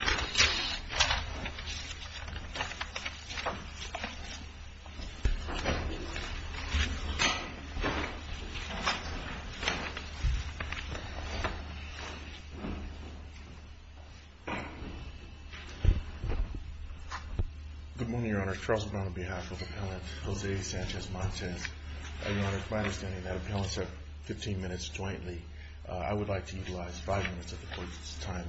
Good morning, Your Honor. Charles Brown on behalf of Appellant Jose Sanchez-Montes. Your Honor, it's my understanding that Appellants have 15 minutes jointly. I would like to utilize five minutes of the Court's time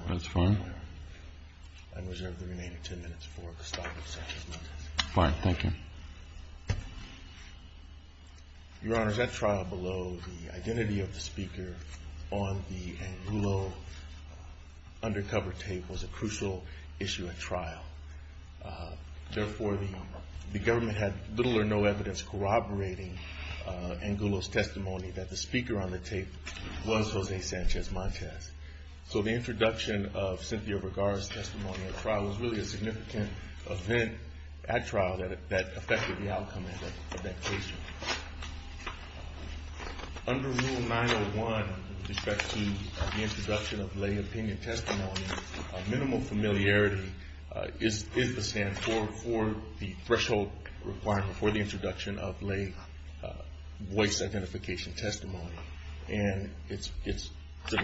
and reserve the remaining 10 minutes for the stop of Sanchez-Montes. Your Honor, at trial below, the identity of the speaker on the Angulo undercover tape was a crucial issue at trial. Therefore, the government had little or no evidence corroborating Angulo's testimony that the speaker on the tape was Jose Sanchez-Montes. So the introduction of Cynthia Vergara's testimony at trial was really a significant event at trial that affected the outcome of that case. Under Rule 901 with respect to the introduction of lay opinion testimony, minimal familiarity is the standard for the threshold requirement for the introduction of lay voice identification testimony. And it's the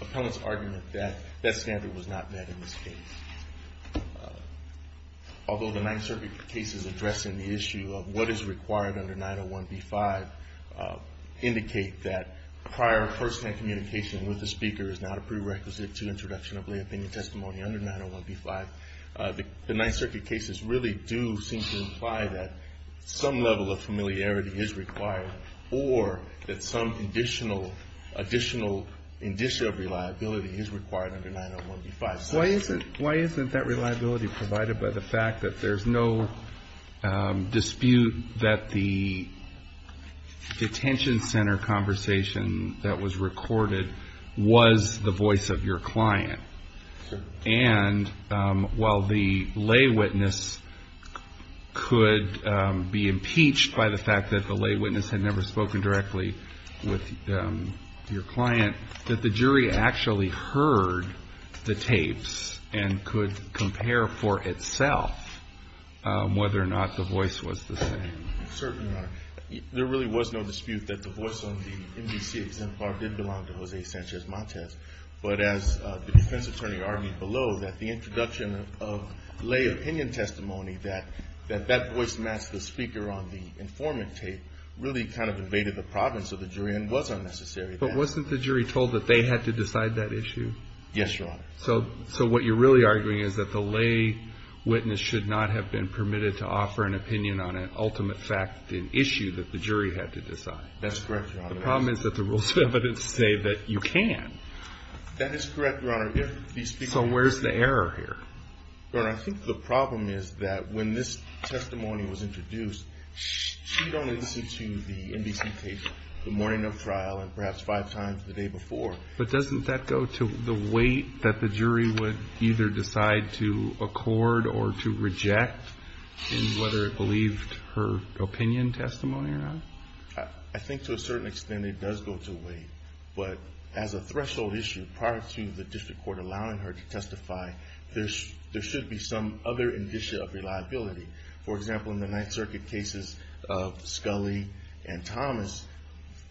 Appellant's argument that that standard was not met in this case. Although the Ninth Circuit cases addressing the issue of what is required under 901B-5 indicate that prior firsthand communication with the speaker is not a prerequisite to introduction of lay opinion testimony under 901B-5, the Ninth Circuit cases really do seem to imply that some level of familiarity is required or that some additional addition of reliability is required under 901B-5. Why isn't that reliability provided by the fact that there's no dispute that the detention center conversation that was recorded was the voice of your client? And while the lay witness could be impeached by the fact that the lay witness had never spoken directly with your client, that the jury actually heard the tapes and could compare for itself whether or not the voice was the same? Certainly not. There really was no dispute that the voice on the MDCA exemplar did belong to Jose Sanchez-Montes. But as the defense attorney argued below, that the introduction of lay opinion testimony, that that voice matched the speaker on the MDCA exemplar and was necessary. But wasn't the jury told that they had to decide that issue? Yes, Your Honor. So what you're really arguing is that the lay witness should not have been permitted to offer an opinion on an ultimate fact issue that the jury had to decide? That's correct, Your Honor. The problem is that the rules of evidence say that you can. That is correct, Your Honor. So where's the error here? Your Honor, I think the problem is that when this testimony was introduced, she'd only seen the MDCA tapes the morning of trial and perhaps five times the day before. But doesn't that go to the weight that the jury would either decide to accord or to reject in whether it believed her opinion testimony or not? I think to a certain extent it does go to weight. But as a threshold issue, prior to the district court allowing her to testify, there should be some other indicia of reliability. For example, in the Ninth Circuit cases of Scully and Thomas,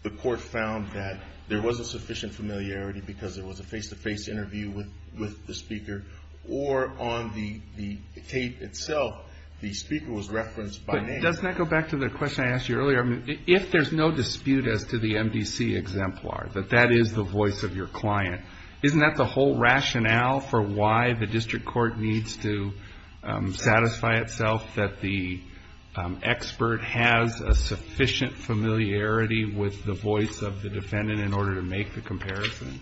the court found that there wasn't sufficient familiarity because there was a face-to-face interview with the speaker. Or on the tape itself, the speaker was referenced by name. Doesn't that go back to the question I asked you earlier? If there's no dispute as to the MDCA exemplar, that that is the voice of your client, isn't that the whole rationale for why the district court needs to satisfy itself that the expert has a sufficient familiarity with the voice of the defendant in order to make the comparison?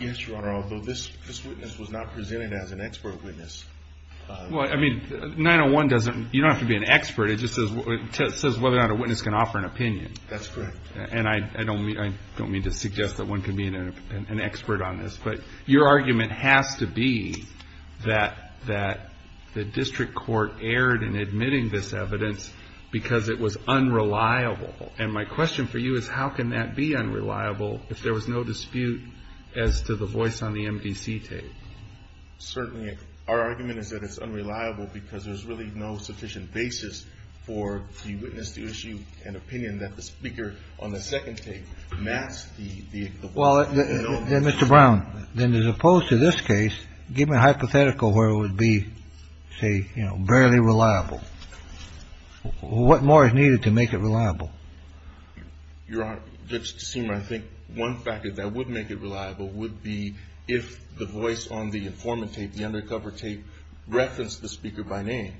Yes, Your Honor, although this witness was not presented as an expert witness. Well, I mean, 901 doesn't – you don't have to be an expert. It just says whether or not a witness can offer an opinion. That's correct. And I don't mean to suggest that one can be an expert on this. But your argument has to be that the district court erred in admitting this evidence because it was unreliable. And my question for you is how can that be unreliable if there was no dispute as to the voice on the MDC tape? Certainly, our argument is that it's unreliable because there's really no sufficient basis for the witness to issue an opinion that the speaker on the second tape maps the voice. Well, Mr. Brown, then as opposed to this case, give me a hypothetical where it would be, say, you know, barely reliable. What more is needed to make it reliable? Your Honor, it seems I think one factor that would make it reliable would be if the voice on the informant tape, the undercover tape, referenced the speaker by name.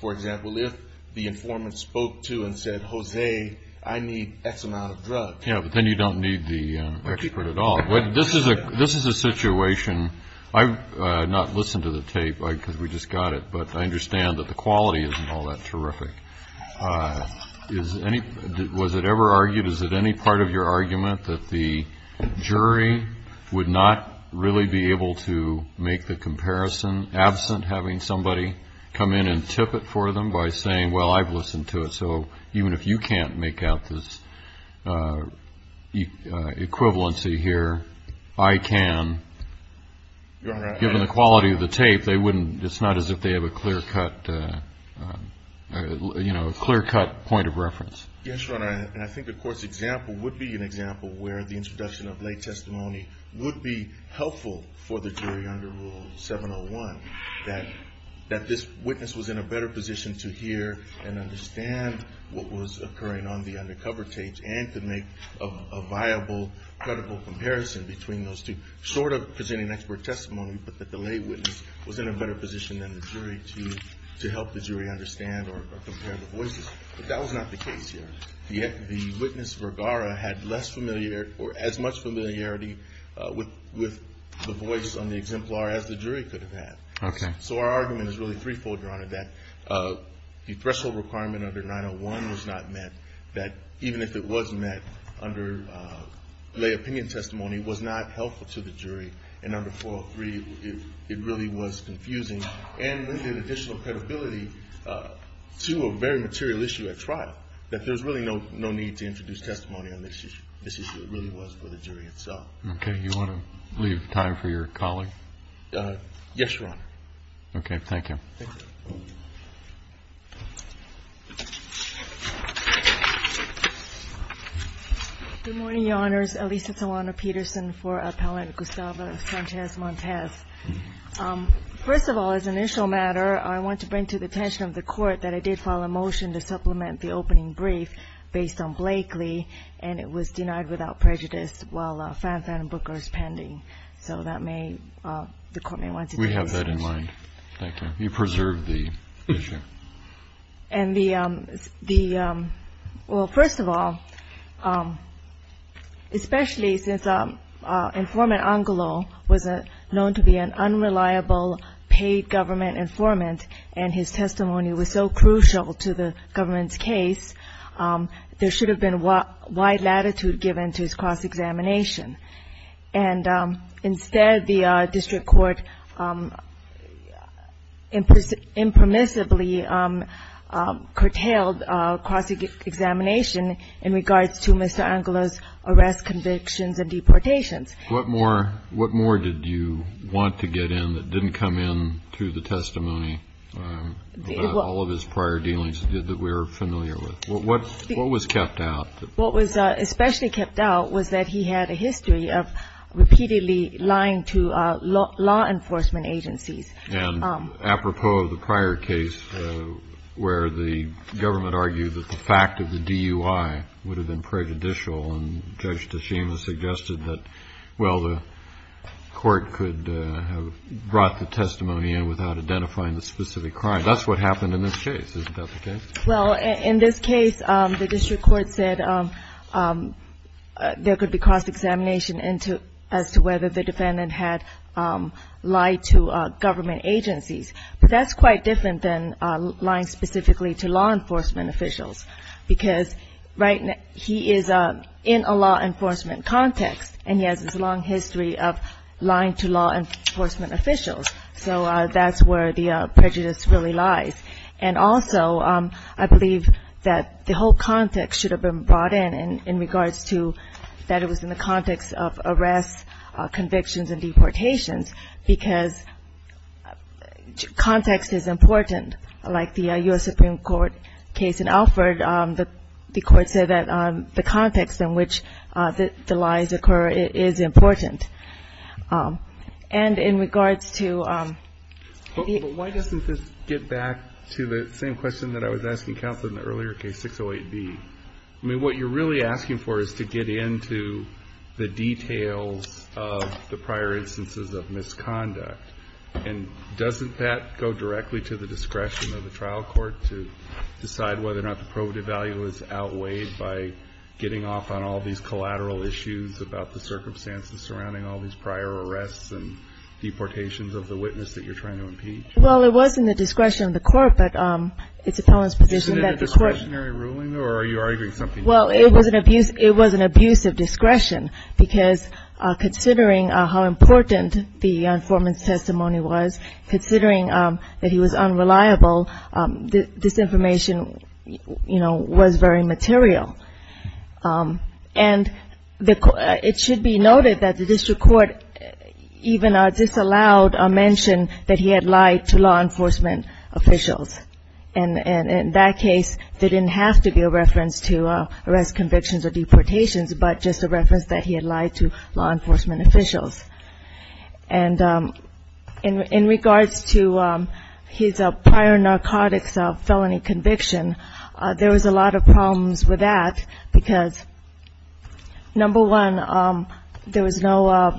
For example, if the informant spoke to and said, Jose, I need X amount of drugs. Yeah, but then you don't need the expert at all. This is a situation – I've not listened to the tape because we just got it, but I understand that the quality isn't all that terrific. Was it ever argued, is it any part of your argument that the jury would not really be able to make the comparison, absent having somebody come in and tip it for them by saying, well, I've listened to it, so even if you can't make out this equivalency here, I can. Your Honor, I – Given the quality of the tape, they wouldn't – it's not as if they have a clear-cut, you know, a clear-cut point of reference. Yes, Your Honor, and I think the court's example would be an example where the introduction of lay testimony would be helpful for the jury under Rule 701, that this witness was in a better position to hear and understand what was occurring on the undercover tape and to make a viable, credible comparison between those two, short of presenting expert testimony, but that the lay witness was in a better position than the jury to help the jury understand or compare the voices. But that was not the case here. The witness, Vergara, had less familiarity or as much familiarity with the voice on the exemplar as the jury could have had. Okay. So our argument is really threefold, Your Honor, that the threshold requirement under 901 was not met, that even if it was met under lay opinion testimony was not helpful to the jury, and under 403 it really was confusing and needed additional credibility to a very material issue at trial, that there's really no need to introduce testimony on this issue. This issue really was for the jury itself. Okay. Do you want to leave time for your colleague? Yes, Your Honor. Okay. Thank you. Thank you. Good morning, Your Honors. Elisa Solano-Peterson for Appellant Gustavo Sanchez-Montez. First of all, as an initial matter, I want to bring to the attention of the Court that I did file a motion to supplement the opening brief based on Blakely, and it was denied without prejudice while Fanfan Booker is pending. So that may the Court may want to take this question. We have that in mind. Thank you. You preserved the issue. And the – well, first of all, especially since Informant Angelou was known to be an unreliable paid government informant and his testimony was so crucial to the government's case, there should have been wide latitude given to his cross-examination. And instead, the district court impermissibly curtailed cross-examination in regards to Mr. Angelou's arrest convictions and deportations. What more did you want to get in that didn't come in through the testimony about all of his prior dealings that we're familiar with? What was kept out? What was especially kept out was that he had a history of repeatedly lying to law enforcement agencies. And apropos of the prior case where the government argued that the fact of the DUI would have been prejudicial and Judge Teshima suggested that, well, the court could have brought the testimony in without identifying the specific crime. That's what happened in this case. Isn't that the case? Well, in this case, the district court said there could be cross-examination as to whether the defendant had lied to government agencies. But that's quite different than lying specifically to law enforcement officials because right now he is in a law enforcement context, and he has this long history of lying to law enforcement officials. So that's where the prejudice really lies. And also I believe that the whole context should have been brought in in regards to that it was in the context of arrests, convictions, and deportations because context is important. Like the U.S. Supreme Court case in Alford, the court said that the context in which the lies occur is important. And in regards to the ---- But why doesn't this get back to the same question that I was asking counsel in the earlier case, 608B? I mean, what you're really asking for is to get into the details of the prior instances of misconduct. And doesn't that go directly to the discretion of the trial court to decide whether or not the probative value is outweighed by getting off on all these collateral issues about the circumstances surrounding all these prior arrests and deportations of the witness that you're trying to impeach? Well, it was in the discretion of the court, but it's a felon's position that the court ---- Isn't it a discretionary ruling, or are you arguing something different? Well, it was an abuse of discretion because considering how important the informant's testimony was, considering that he was unreliable, this information, you know, was very material. And it should be noted that the district court even disallowed a mention that he had lied to law enforcement officials. And in that case, there didn't have to be a reference to arrest convictions or deportations, but just a reference that he had lied to law enforcement officials. And in regards to his prior narcotics felony conviction, there was a lot of problems with that because, number one, there was no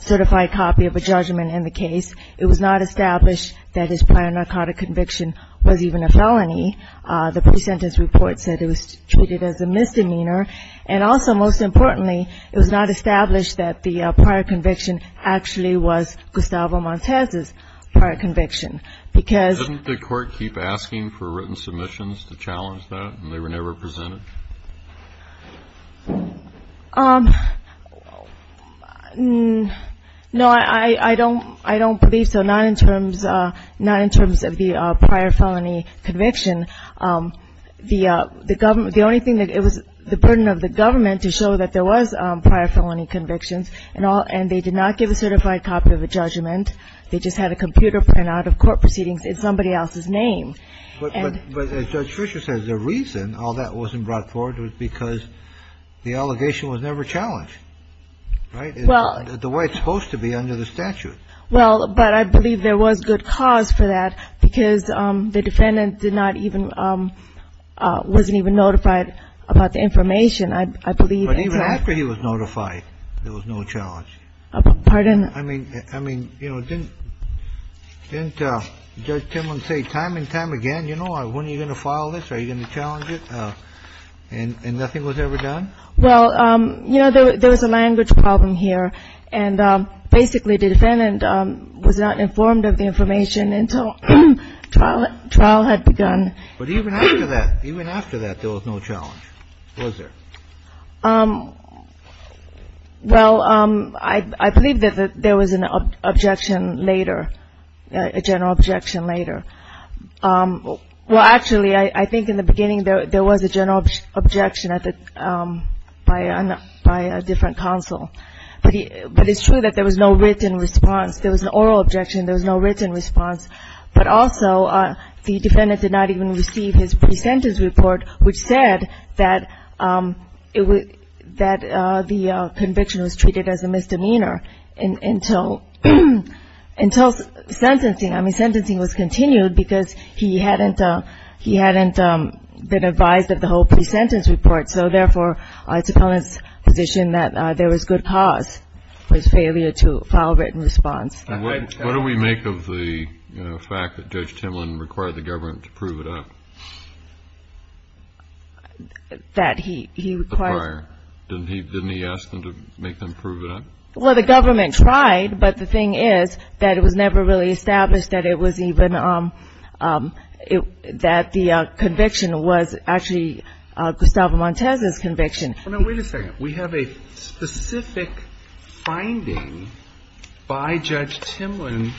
certified copy of a judgment in the case. It was not established that his prior narcotic conviction was even a felony. The pre-sentence report said it was treated as a misdemeanor. And also, most importantly, it was not established that the prior conviction actually was Gustavo Montez's prior conviction because ---- Didn't the court keep asking for written submissions to challenge that, and they were never presented? No, I don't believe so, not in terms of the prior felony conviction. The only thing that it was the burden of the government to show that there was prior felony convictions, and they did not give a certified copy of a judgment. They just had a computer printout of court proceedings in somebody else's name. But as Judge Fisher says, the reason all that wasn't brought forward was because the allegation was never challenged, right? Well ---- The way it's supposed to be under the statute. Well, but I believe there was good cause for that because the defendant did not even ---- wasn't even notified about the information. I believe ---- But even after he was notified, there was no challenge. Pardon? I mean, didn't Judge Timlin say time and time again, you know, when are you going to file this? Are you going to challenge it? And nothing was ever done? Well, you know, there was a language problem here. And basically, the defendant was not informed of the information until trial had begun. But even after that, even after that, there was no challenge, was there? Well, I believe that there was an objection later, a general objection later. Well, actually, I think in the beginning there was a general objection at the ---- by a different counsel. But it's true that there was no written response. There was an oral objection. There was no written response. But also, the defendant did not even receive his pre-sentence report, which said that it was ---- that the conviction was treated as a misdemeanor until ---- until sentencing. I mean, sentencing was continued because he hadn't been advised of the whole pre-sentence report. So, therefore, it's a felon's position that there was good cause for his failure to file a written response. What do we make of the fact that Judge Timlin required the government to prove it up? That he required ---- Didn't he ask them to make them prove it up? Well, the government tried. But the thing is that it was never really established that it was even ---- that the conviction was actually Gustavo Montez's conviction. Now, wait a second. We have a specific finding by Judge Timlin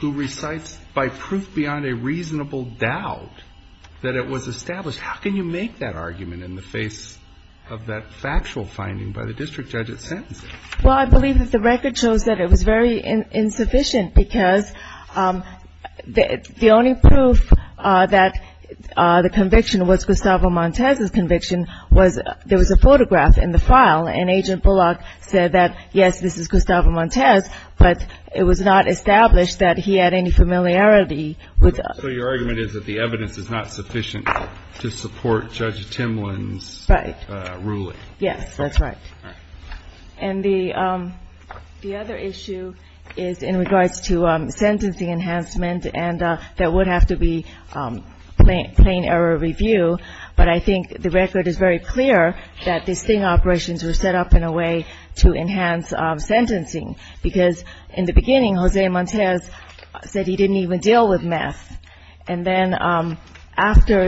who recites by proof beyond a reasonable doubt that it was established. How can you make that argument in the face of that factual finding by the district judge at sentencing? Well, I believe that the record shows that it was very insufficient because the only proof that the conviction was Gustavo Montez's conviction was there was a photograph in the file. And Agent Bullock said that, yes, this is Gustavo Montez, but it was not established that he had any familiarity with ---- So your argument is that the evidence is not sufficient to support Judge Timlin's ruling. Right. Yes, that's right. All right. And the other issue is in regards to sentencing enhancement, and that would have to be plain error review. But I think the record is very clear that these sting operations were set up in a way to enhance sentencing because in the beginning, Jose Montez said he didn't even deal with meth. And then after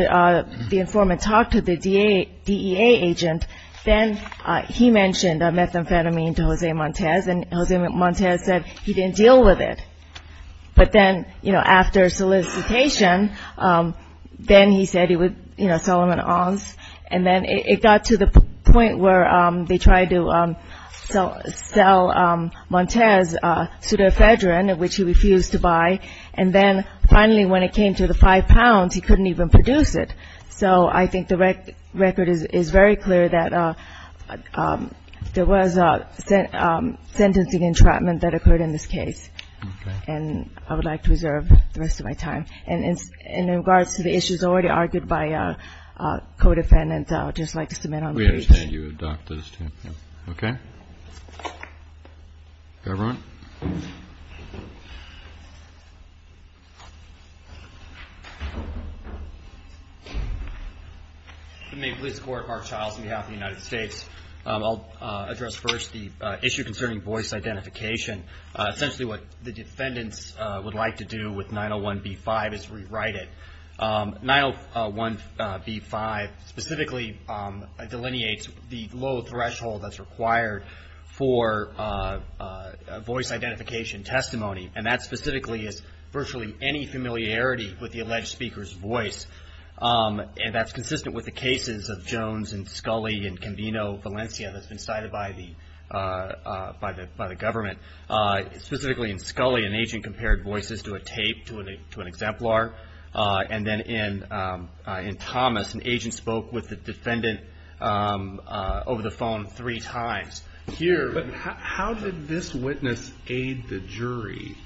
the informant talked to the DEA agent, then he mentioned methamphetamine to Jose Montez, and Jose Montez said he didn't deal with it. But then, you know, after solicitation, then he said he would, you know, sell him an oz. And then it got to the point where they tried to sell Montez pseudoephedrine, which he refused to buy. And then finally, when it came to the five pounds, he couldn't even produce it. So I think the record is very clear that there was sentencing entrapment that occurred in this case. Okay. And I would like to reserve the rest of my time. And in regards to the issues already argued by co-defendants, I would just like to submit on that. We understand you adopt those two. Okay. Everyone? The Maine Police Court, Mark Childs on behalf of the United States. I'll address first the issue concerning voice identification. Essentially what the defendants would like to do with 901B-5 is rewrite it. 901B-5 specifically delineates the low threshold that's required for voice identification. And that specifically is virtually any familiarity with the alleged speaker's voice. And that's consistent with the cases of Jones and Scully and Convino Valencia that's been cited by the government. Specifically in Scully, an agent compared voices to a tape, to an exemplar. And then in Thomas, an agent spoke with the defendant over the phone three times. But how did this witness aid the jury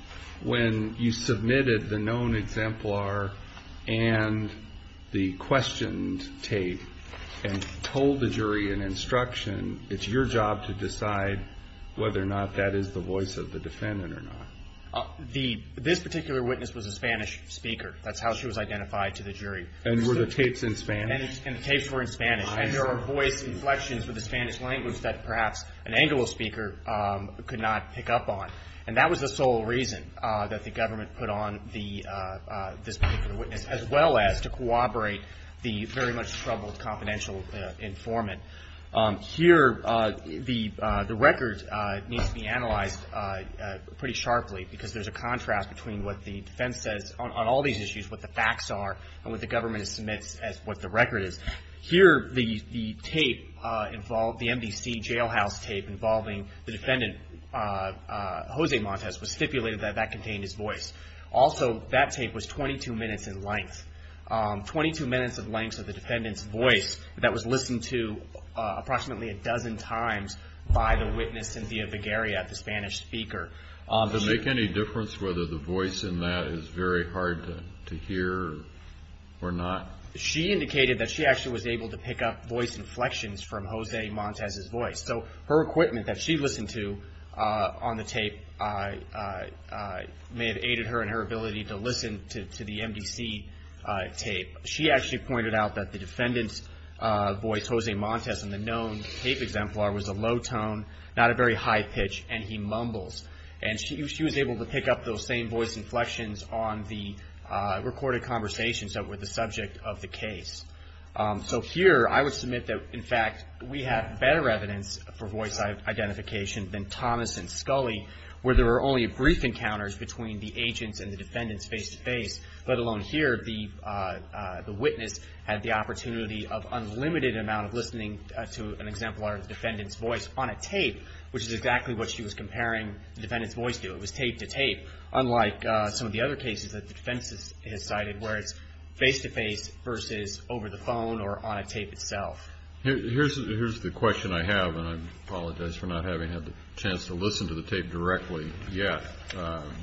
when you submitted the known exemplar and the questioned tape and told the jury in instruction it's your job to decide whether or not that is the voice of the defendant or not? This particular witness was a Spanish speaker. That's how she was identified to the jury. And were the tapes in Spanish? And the tapes were in Spanish. And there were voice inflections with the Spanish language that perhaps an Anglo speaker could not pick up on. And that was the sole reason that the government put on this particular witness, as well as to corroborate the very much troubled confidential informant. Here, the record needs to be analyzed pretty sharply, because there's a contrast between what the defense says on all these issues, what the facts are, and what the government submits as what the record is. Here, the tape involved, the MDC jailhouse tape involving the defendant, Jose Montes, was stipulated that that contained his voice. Also, that tape was 22 minutes in length, 22 minutes of length of the defendant's voice that was listened to approximately a dozen times by the witness, Cynthia Vigueria, the Spanish speaker. Does it make any difference whether the voice in that is very hard to hear or not? She indicated that she actually was able to pick up voice inflections from Jose Montes' voice. So her equipment that she listened to on the tape may have aided her in her ability to listen to the MDC tape. She actually pointed out that the defendant's voice, Jose Montes, in the known tape exemplar was a low tone, not a very high pitch, and he mumbles. And she was able to pick up those same voice inflections on the recorded conversations that were the subject of the case. So here, I would submit that, in fact, we have better evidence for voice identification than Thomas and Scully, where there were only brief encounters between the agents and the defendants face-to-face, let alone here the witness had the opportunity of unlimited amount of listening to an exemplar of the defendant's voice on a tape, which is exactly what she was comparing the defendant's voice to. It was tape-to-tape, unlike some of the other cases that the defense has cited, where it's face-to-face versus over the phone or on a tape itself. Here's the question I have, and I apologize for not having had the chance to listen to the tape directly yet.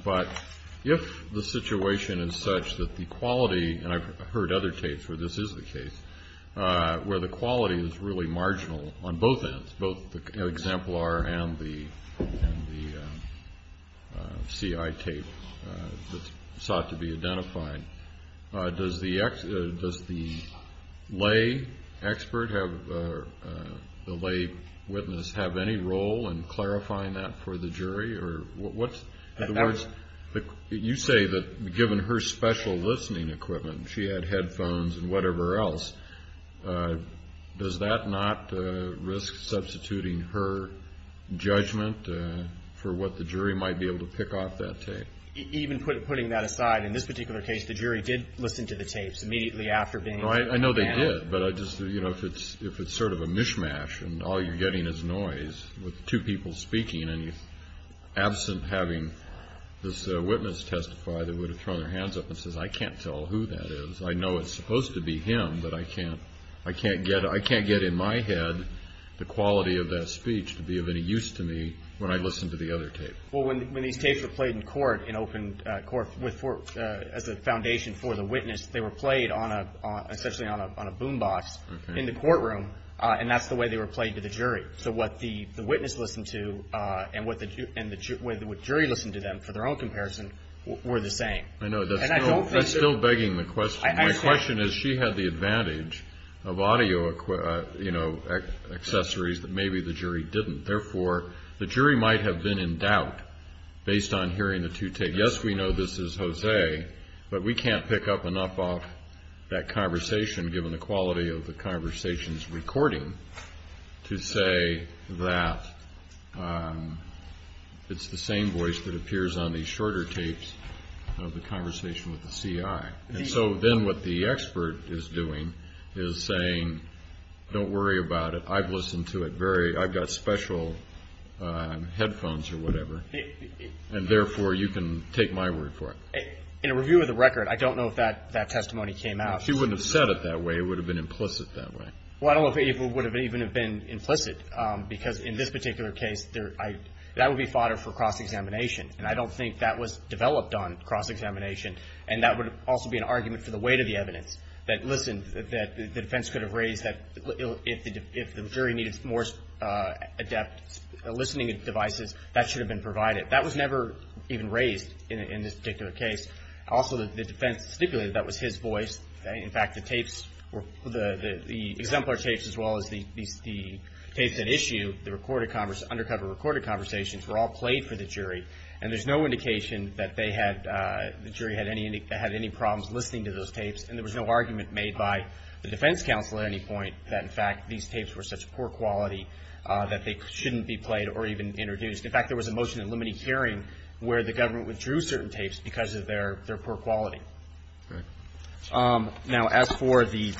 But if the situation is such that the quality, and I've heard other tapes where this is the case, where the quality is really marginal on both ends, both the exemplar and the CI tape that's sought to be identified, does the lay expert, the lay witness, have any role in clarifying that for the jury? In other words, you say that given her special listening equipment, she had headphones and whatever else, does that not risk substituting her judgment for what the jury might be able to pick off that tape? Even putting that aside, in this particular case, the jury did listen to the tapes immediately after being interviewed. I know they did, but if it's sort of a mishmash and all you're getting is noise with two people speaking, and you, absent having this witness testify that would have thrown their hands up and says, I can't tell who that is, I know it's supposed to be him, but I can't get in my head the quality of that speech to be of any use to me when I listen to the other tape. Well, when these tapes were played in court, as a foundation for the witness, they were played essentially on a boom box in the courtroom, and that's the way they were played to the jury. So what the witness listened to and what jury listened to them for their own comparison were the same. I know, that's still begging the question. My question is, she had the advantage of audio accessories that maybe the jury didn't. Therefore, the jury might have been in doubt based on hearing the two tapes. Yes, we know this is Jose, but we can't pick up enough off that conversation, given the quality of the conversation's recording, to say that it's the same voice that appears on the shorter tapes of the conversation with the CI. And so then what the expert is doing is saying, don't worry about it, I've listened to it, I've got special headphones or whatever, and therefore you can take my word for it. In a review of the record, I don't know if that testimony came out. She wouldn't have said it that way, it would have been implicit that way. Well, I don't know if it would have even been implicit, because in this particular case, that would be fodder for cross-examination. And I don't think that was developed on cross-examination, and that would also be an argument for the weight of the evidence, to provide it. That was never even raised in this particular case. Also, the defense stipulated that was his voice. In fact, the exemplar tapes, as well as the tapes at issue, the undercover recorded conversations, were all played for the jury, and there's no indication that the jury had any problems listening to those tapes. And there was no argument made by the defense counsel at any point that, in fact, these tapes were such poor quality that they shouldn't be played or even introduced. In fact, there was a motion in limine hearing where the government withdrew certain tapes because of their poor quality. Now, as for the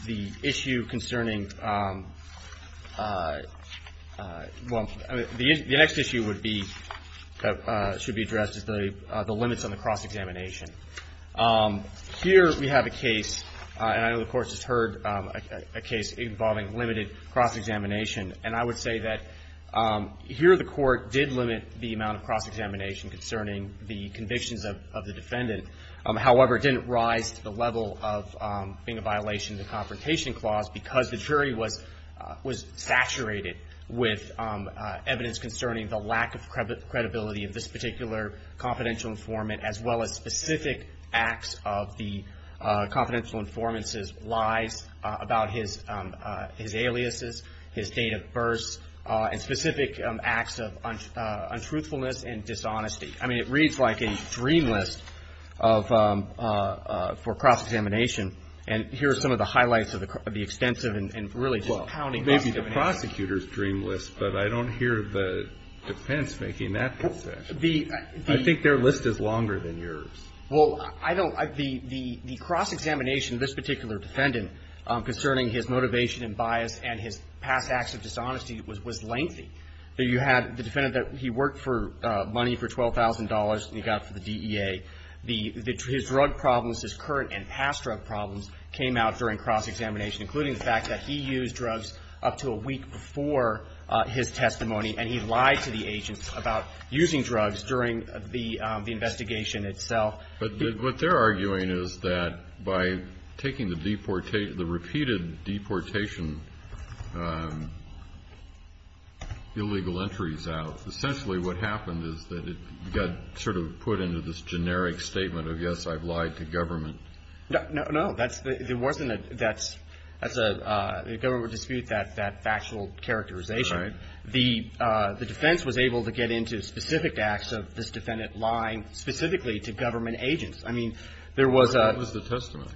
issue concerning, well, the next issue that should be addressed is the limits on the cross-examination. Here, we have a case, and I know the Court has heard a case involving limited cross-examination, and I would say that here, the Court did limit the amount of cross-examination concerning the convictions of the defendant. However, it didn't rise to the level of being a violation of the Confrontation Clause, because the jury was saturated with evidence concerning the lack of credibility of this particular confidential informant, as well as specific evidence. Specific acts of the confidential informant's lies about his aliases, his date of birth, and specific acts of untruthfulness and dishonesty. I mean, it reads like a dream list for cross-examination, and here are some of the highlights of the extensive and really just pounding cross-examination. Well, maybe the prosecutor's dream list, but I don't hear the defense making that concession. I think their list is longer than yours. Well, I don't – the cross-examination of this particular defendant concerning his motivation and bias and his past acts of dishonesty was lengthy. You had the defendant that he worked for money for $12,000 and he got for the DEA. His drug problems, his current and past drug problems came out during cross-examination, including the fact that he used drugs up to a week before his testimony, and he lied to the agent about using drugs during the investigation itself. But what they're arguing is that by taking the repeated deportation illegal entries out, essentially what happened is that it got sort of put into this generic statement of, yes, I've lied to government. No. No. No. That's – there wasn't a – that's – the government would dispute that factual characterization. Right. The defense was able to get into specific acts of this defendant lying specifically to government agents. I mean, there was a – What was the testimony?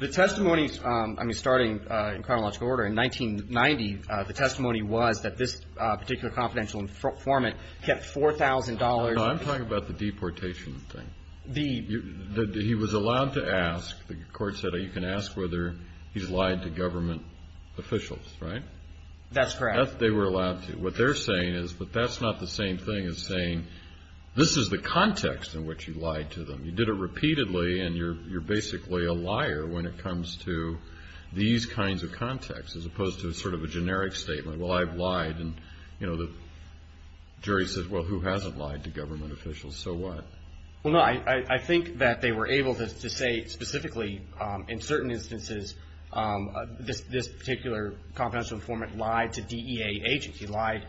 The testimony – I mean, starting in chronological order, in 1990, the testimony was that this particular confidential informant kept $4,000. No, I'm talking about the deportation thing. The – he was allowed to ask – the court said, oh, you can ask whether he's lied to government officials, right? That's correct. They were allowed to. What they're saying is – but that's not the same thing as saying, this is the context in which you lied to them. You did it repeatedly and you're basically a liar when it comes to these kinds of contexts, as opposed to sort of a generic statement. Well, I've lied, and, you know, the jury says, well, who hasn't lied to government officials? So what? Well, no, I think that they were able to say specifically, in certain instances, this particular confidential informant lied to DEA agents. He lied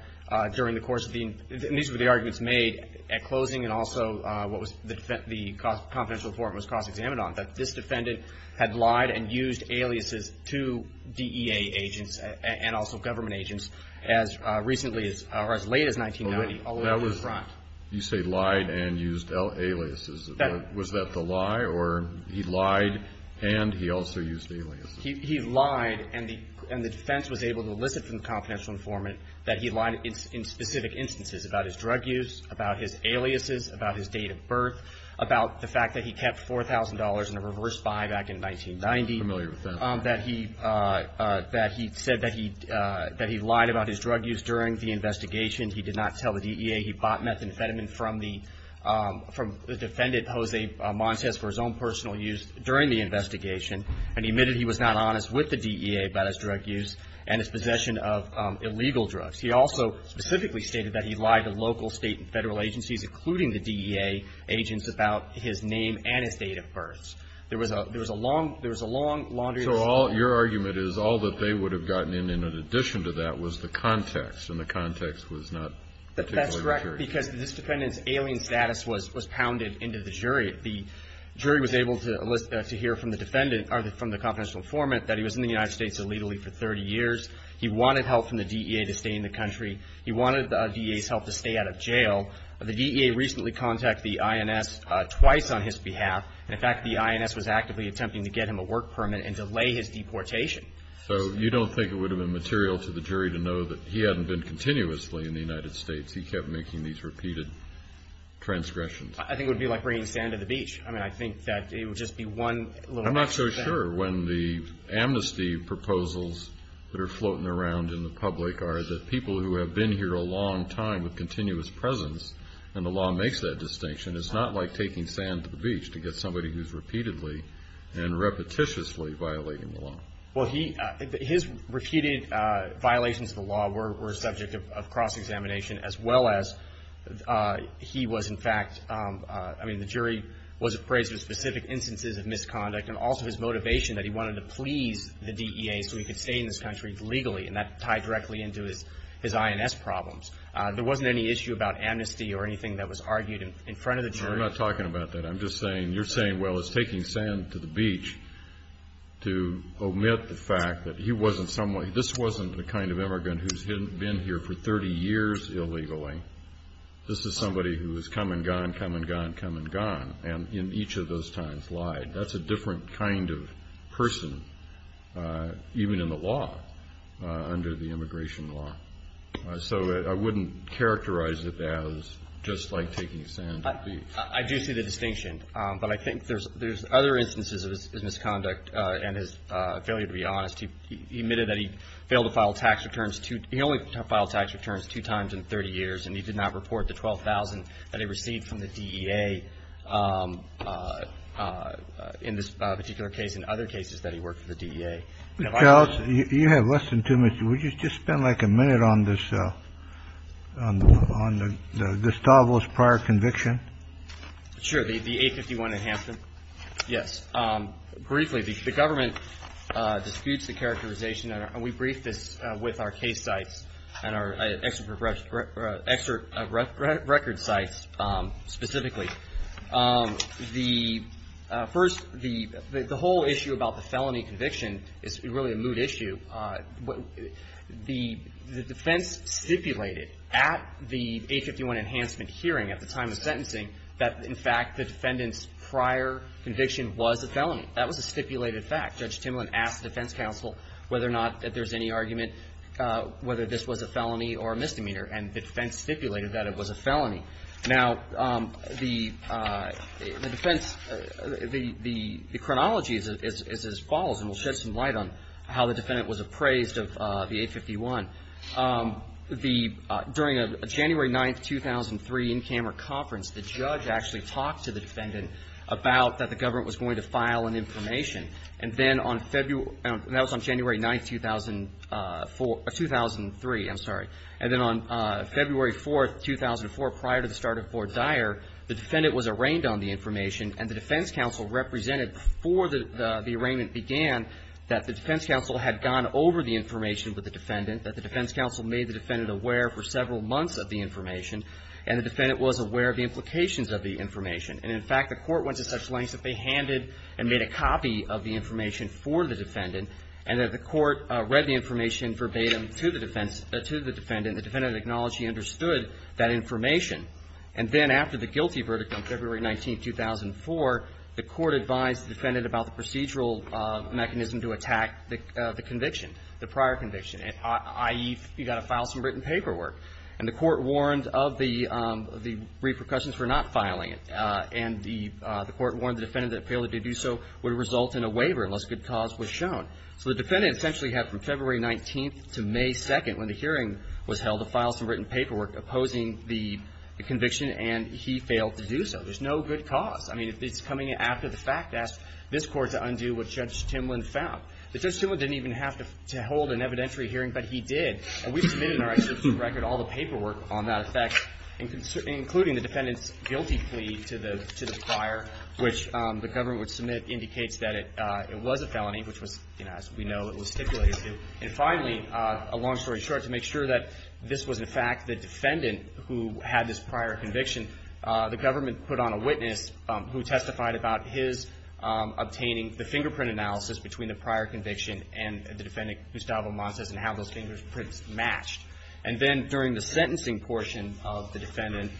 during the course of the – and these were the arguments made at closing and also what was the – the confidential informant was cross-examined on, that this defendant had lied and used aliases to DEA agents and also government agents. As recently as – or as late as 1990, although he was right. You say lied and used aliases. Was that the lie, or he lied and he also used aliases? He lied, and the defense was able to elicit from the confidential informant that he lied in specific instances about his drug use, about his aliases, about his date of birth, about the fact that he kept $4,000 in a reverse buy back in 1990. I'm not familiar with that. That he said that he lied about his drug use during the investigation. He did not tell the DEA he bought methamphetamine from the defendant, Jose Montes, for his own personal use during the investigation. And he admitted he was not honest with the DEA about his drug use and his possession of illegal drugs. He also specifically stated that he lied to local, State, and Federal agencies, including the DEA agents, about his name and his date of birth. There was a long, laundry list. So your argument is all that they would have gotten in, in addition to that, was the context, and the context was not particularly accurate. That's correct, because this defendant's alien status was pounded into the jury. The jury was able to hear from the defendant, or from the confidential informant, that he was in the United States illegally for 30 years. He wanted help from the DEA to stay in the country. He wanted the DEA's help to stay out of jail. The DEA recently contacted the INS twice on his behalf. In fact, the INS was actively attempting to get him a work permit and delay his deportation. So you don't think it would have been material to the jury to know that he hadn't been continuously in the United States. He kept making these repeated transgressions. I think it would be like bringing sand to the beach. I mean, I think that it would just be one little piece of sand. I'm not so sure when the amnesty proposals that are floating around in the public are that people who have been here a long time with continuous presence, and the law makes that distinction, it's not like taking sand to the beach to get somebody who's repeatedly and repetitiously violating the law. Well, his repeated violations of the law were a subject of cross-examination, as well as he was, in fact, I mean, the jury was appraised of specific instances of misconduct, and also his motivation that he wanted to please the DEA so he could stay in this country legally, and that tied directly into his INS problems. There wasn't any issue about amnesty or anything that was argued in front of the jury. No, we're not talking about that. I'm just saying you're saying, well, it's taking sand to the beach to omit the fact that he wasn't someone, this wasn't the kind of immigrant who's been here for 30 years illegally. This is somebody who has come and gone, come and gone, come and gone, and in each of those times lied. That's a different kind of person, even in the law, under the immigration law. So I wouldn't characterize it as just like taking sand to the beach. I do see the distinction, but I think there's other instances of his misconduct and his failure to be honest. He admitted that he failed to file tax returns, he only filed tax returns two times in 30 years, and he did not report the $12,000 that he received from the DEA, in this particular case and other cases that he worked for the DEA. You have less than two minutes. Would you just spend like a minute on this on the Gustavus prior conviction? Sure. The 851 in Hampton. Yes. Briefly, the government disputes the characterization. We briefed this with our case sites and our expert record sites specifically. The first, the whole issue about the felony conviction is really a moot issue. The defense stipulated at the 851 enhancement hearing at the time of sentencing that in fact the defendant's prior conviction was a felony. That was a stipulated fact. Judge Timlin asked the defense counsel whether or not that there's any argument whether this was a felony or a misdemeanor, and the defense stipulated that it was a felony. Now, the defense, the chronology is as follows, and we'll shed some light on how the defendant was appraised of the 851. During a January 9, 2003, in-camera conference, the judge actually talked to the defendant about that the government was going to file an information, and then on February that was on January 9, 2004, 2003, I'm sorry. And then on February 4, 2004, prior to the start of Fort Dyer, the defendant was arraigned on the information, and the defense counsel represented before the arraignment began that the defense counsel had gone over the information with the defendant, that the defense counsel made the defendant aware for several months of the information, and the defendant was aware of the implications of the information. And in fact, the court went to such lengths that they handed and made a copy of the information for the defendant, and that the court read the information verbatim to the defense, to the defendant, and the defendant acknowledged he understood that information. And then after the guilty verdict on February 19, 2004, the court advised the defendant about the procedural mechanism to attack the conviction, the prior conviction, i.e., you've got to file some written paperwork. And the court warned of the repercussions for not filing it, and the court warned the defendant that a failure to do so would result in a waiver unless good cause was shown. So the defendant essentially had from February 19 to May 2, when the hearing was held, to file some written paperwork opposing the conviction, and he failed to do so. There's no good cause. I mean, it's coming after the fact. Ask this court to undo what Judge Timlin found. Judge Timlin didn't even have to hold an evidentiary hearing, but he did. And we submitted in our executive record all the paperwork on that effect, including the defendant's guilty plea to the prior, which the government would submit, indicates that it was a felony, which was, you know, as we know, it was stipulated to. And finally, a long story short, to make sure that this was in fact the defendant who had this prior conviction, the government put on a witness who testified about his obtaining the fingerprint analysis between the prior conviction and the defendant, Gustavo Montes, and how those fingerprints matched. And then during the sentencing portion of the defendant,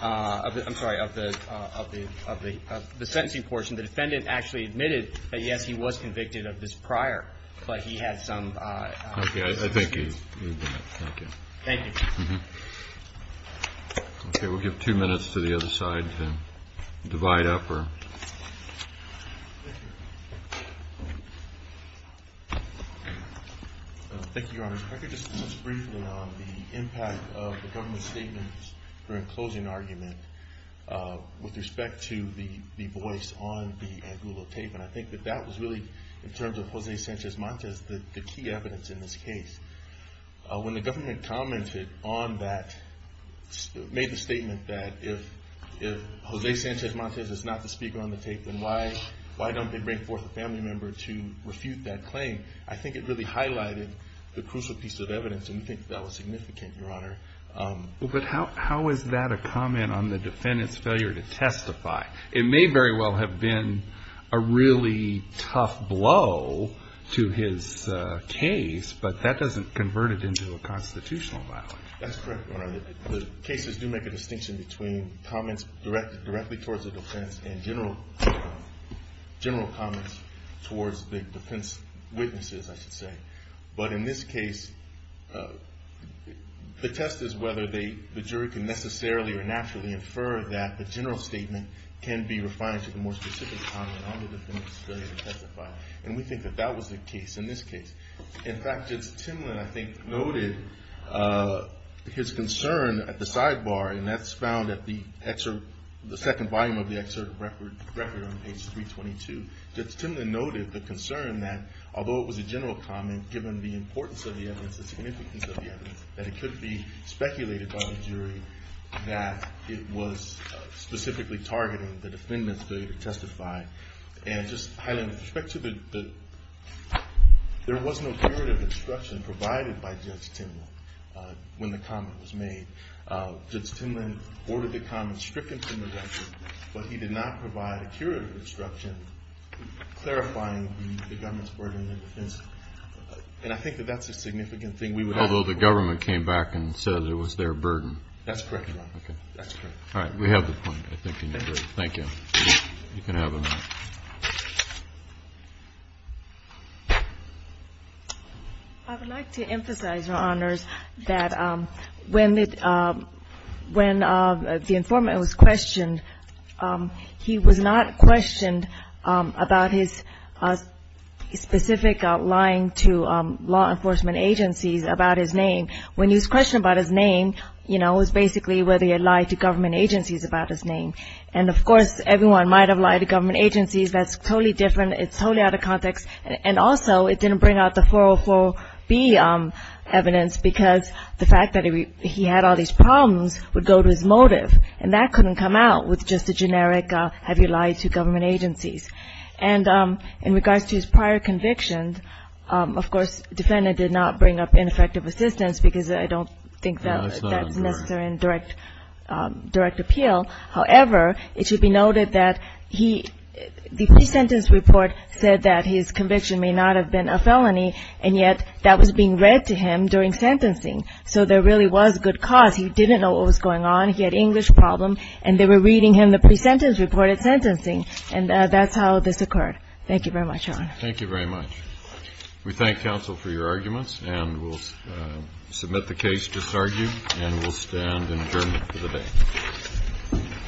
I'm sorry, of the sentencing portion, the defendant actually admitted that, yes, he was convicted of this prior, but he had some. Okay, I think you've done it. Thank you. Okay, we'll give two minutes to the other side to divide up. Thank you, Your Honor. If I could just touch briefly on the impact of the government's statements during closing argument with respect to the voice on the Angulo tape. And I think that that was really, in terms of Jose Sanchez Montes, the key evidence in this case. When the government commented on that, made the statement that if Jose Sanchez Montes is not the speaker on the tape, then why don't they bring forth a family member to refute that claim? I think it really highlighted the crucial piece of evidence, and we think that was significant, Your Honor. But how is that a comment on the defendant's failure to testify? It may very well have been a really tough blow to his case, but that doesn't convert it into a constitutional violation. That's correct, Your Honor. The cases do make a distinction between comments directly towards the defense and general comments towards the defense witnesses, I should say. But in this case, the test is whether the jury can necessarily or naturally infer that the general statement can be refined to the more specific comment on the defendant's failure to testify. And we think that that was the case in this case. In fact, Judge Timlin, I think, noted his concern at the sidebar, and that's found at the second volume of the excerpt of the record on page 322. Judge Timlin noted the concern that although it was a general comment, given the importance of the evidence, the significance of the evidence, that it could be speculated by the jury that it was specifically targeting the defendant's failure to testify. And just, Highland, with respect to the – there was no curative instruction provided by Judge Timlin when the comment was made. Judge Timlin ordered the comment stricken from the record, but he did not provide a curative instruction clarifying the government's burden of defense. And I think that that's a significant thing we would have to work with. Although the government came back and said it was their burden. That's correct, Your Honor. Okay. That's correct. All right. We have the point, I think, in your jury. Thank you. You can have the mic. I would like to emphasize, Your Honors, that when the informant was questioned, he was not questioned about his specific lying to law enforcement agencies about his name. When he was questioned about his name, you know, it was basically whether he had lied to government agencies about his name. And, of course, everyone might have lied to government agencies. That's totally different. It's totally out of context. And also, it didn't bring out the 404B evidence because the fact that he had all these problems would go to his motive. And that couldn't come out with just a generic have you lied to government agencies. And in regards to his prior convictions, of course, the defendant did not bring up ineffective assistance because I don't think that's necessary in direct appeal. However, it should be noted that the pre-sentence report said that his conviction may not have been a felony, and yet that was being read to him during sentencing. So there really was good cause. He didn't know what was going on. He had English problems, and they were reading him the pre-sentence report at sentencing. And that's how this occurred. Thank you very much, Your Honor. Thank you very much. We thank counsel for your arguments, and we'll submit the case disargued, and we'll stand in adjournment for the day.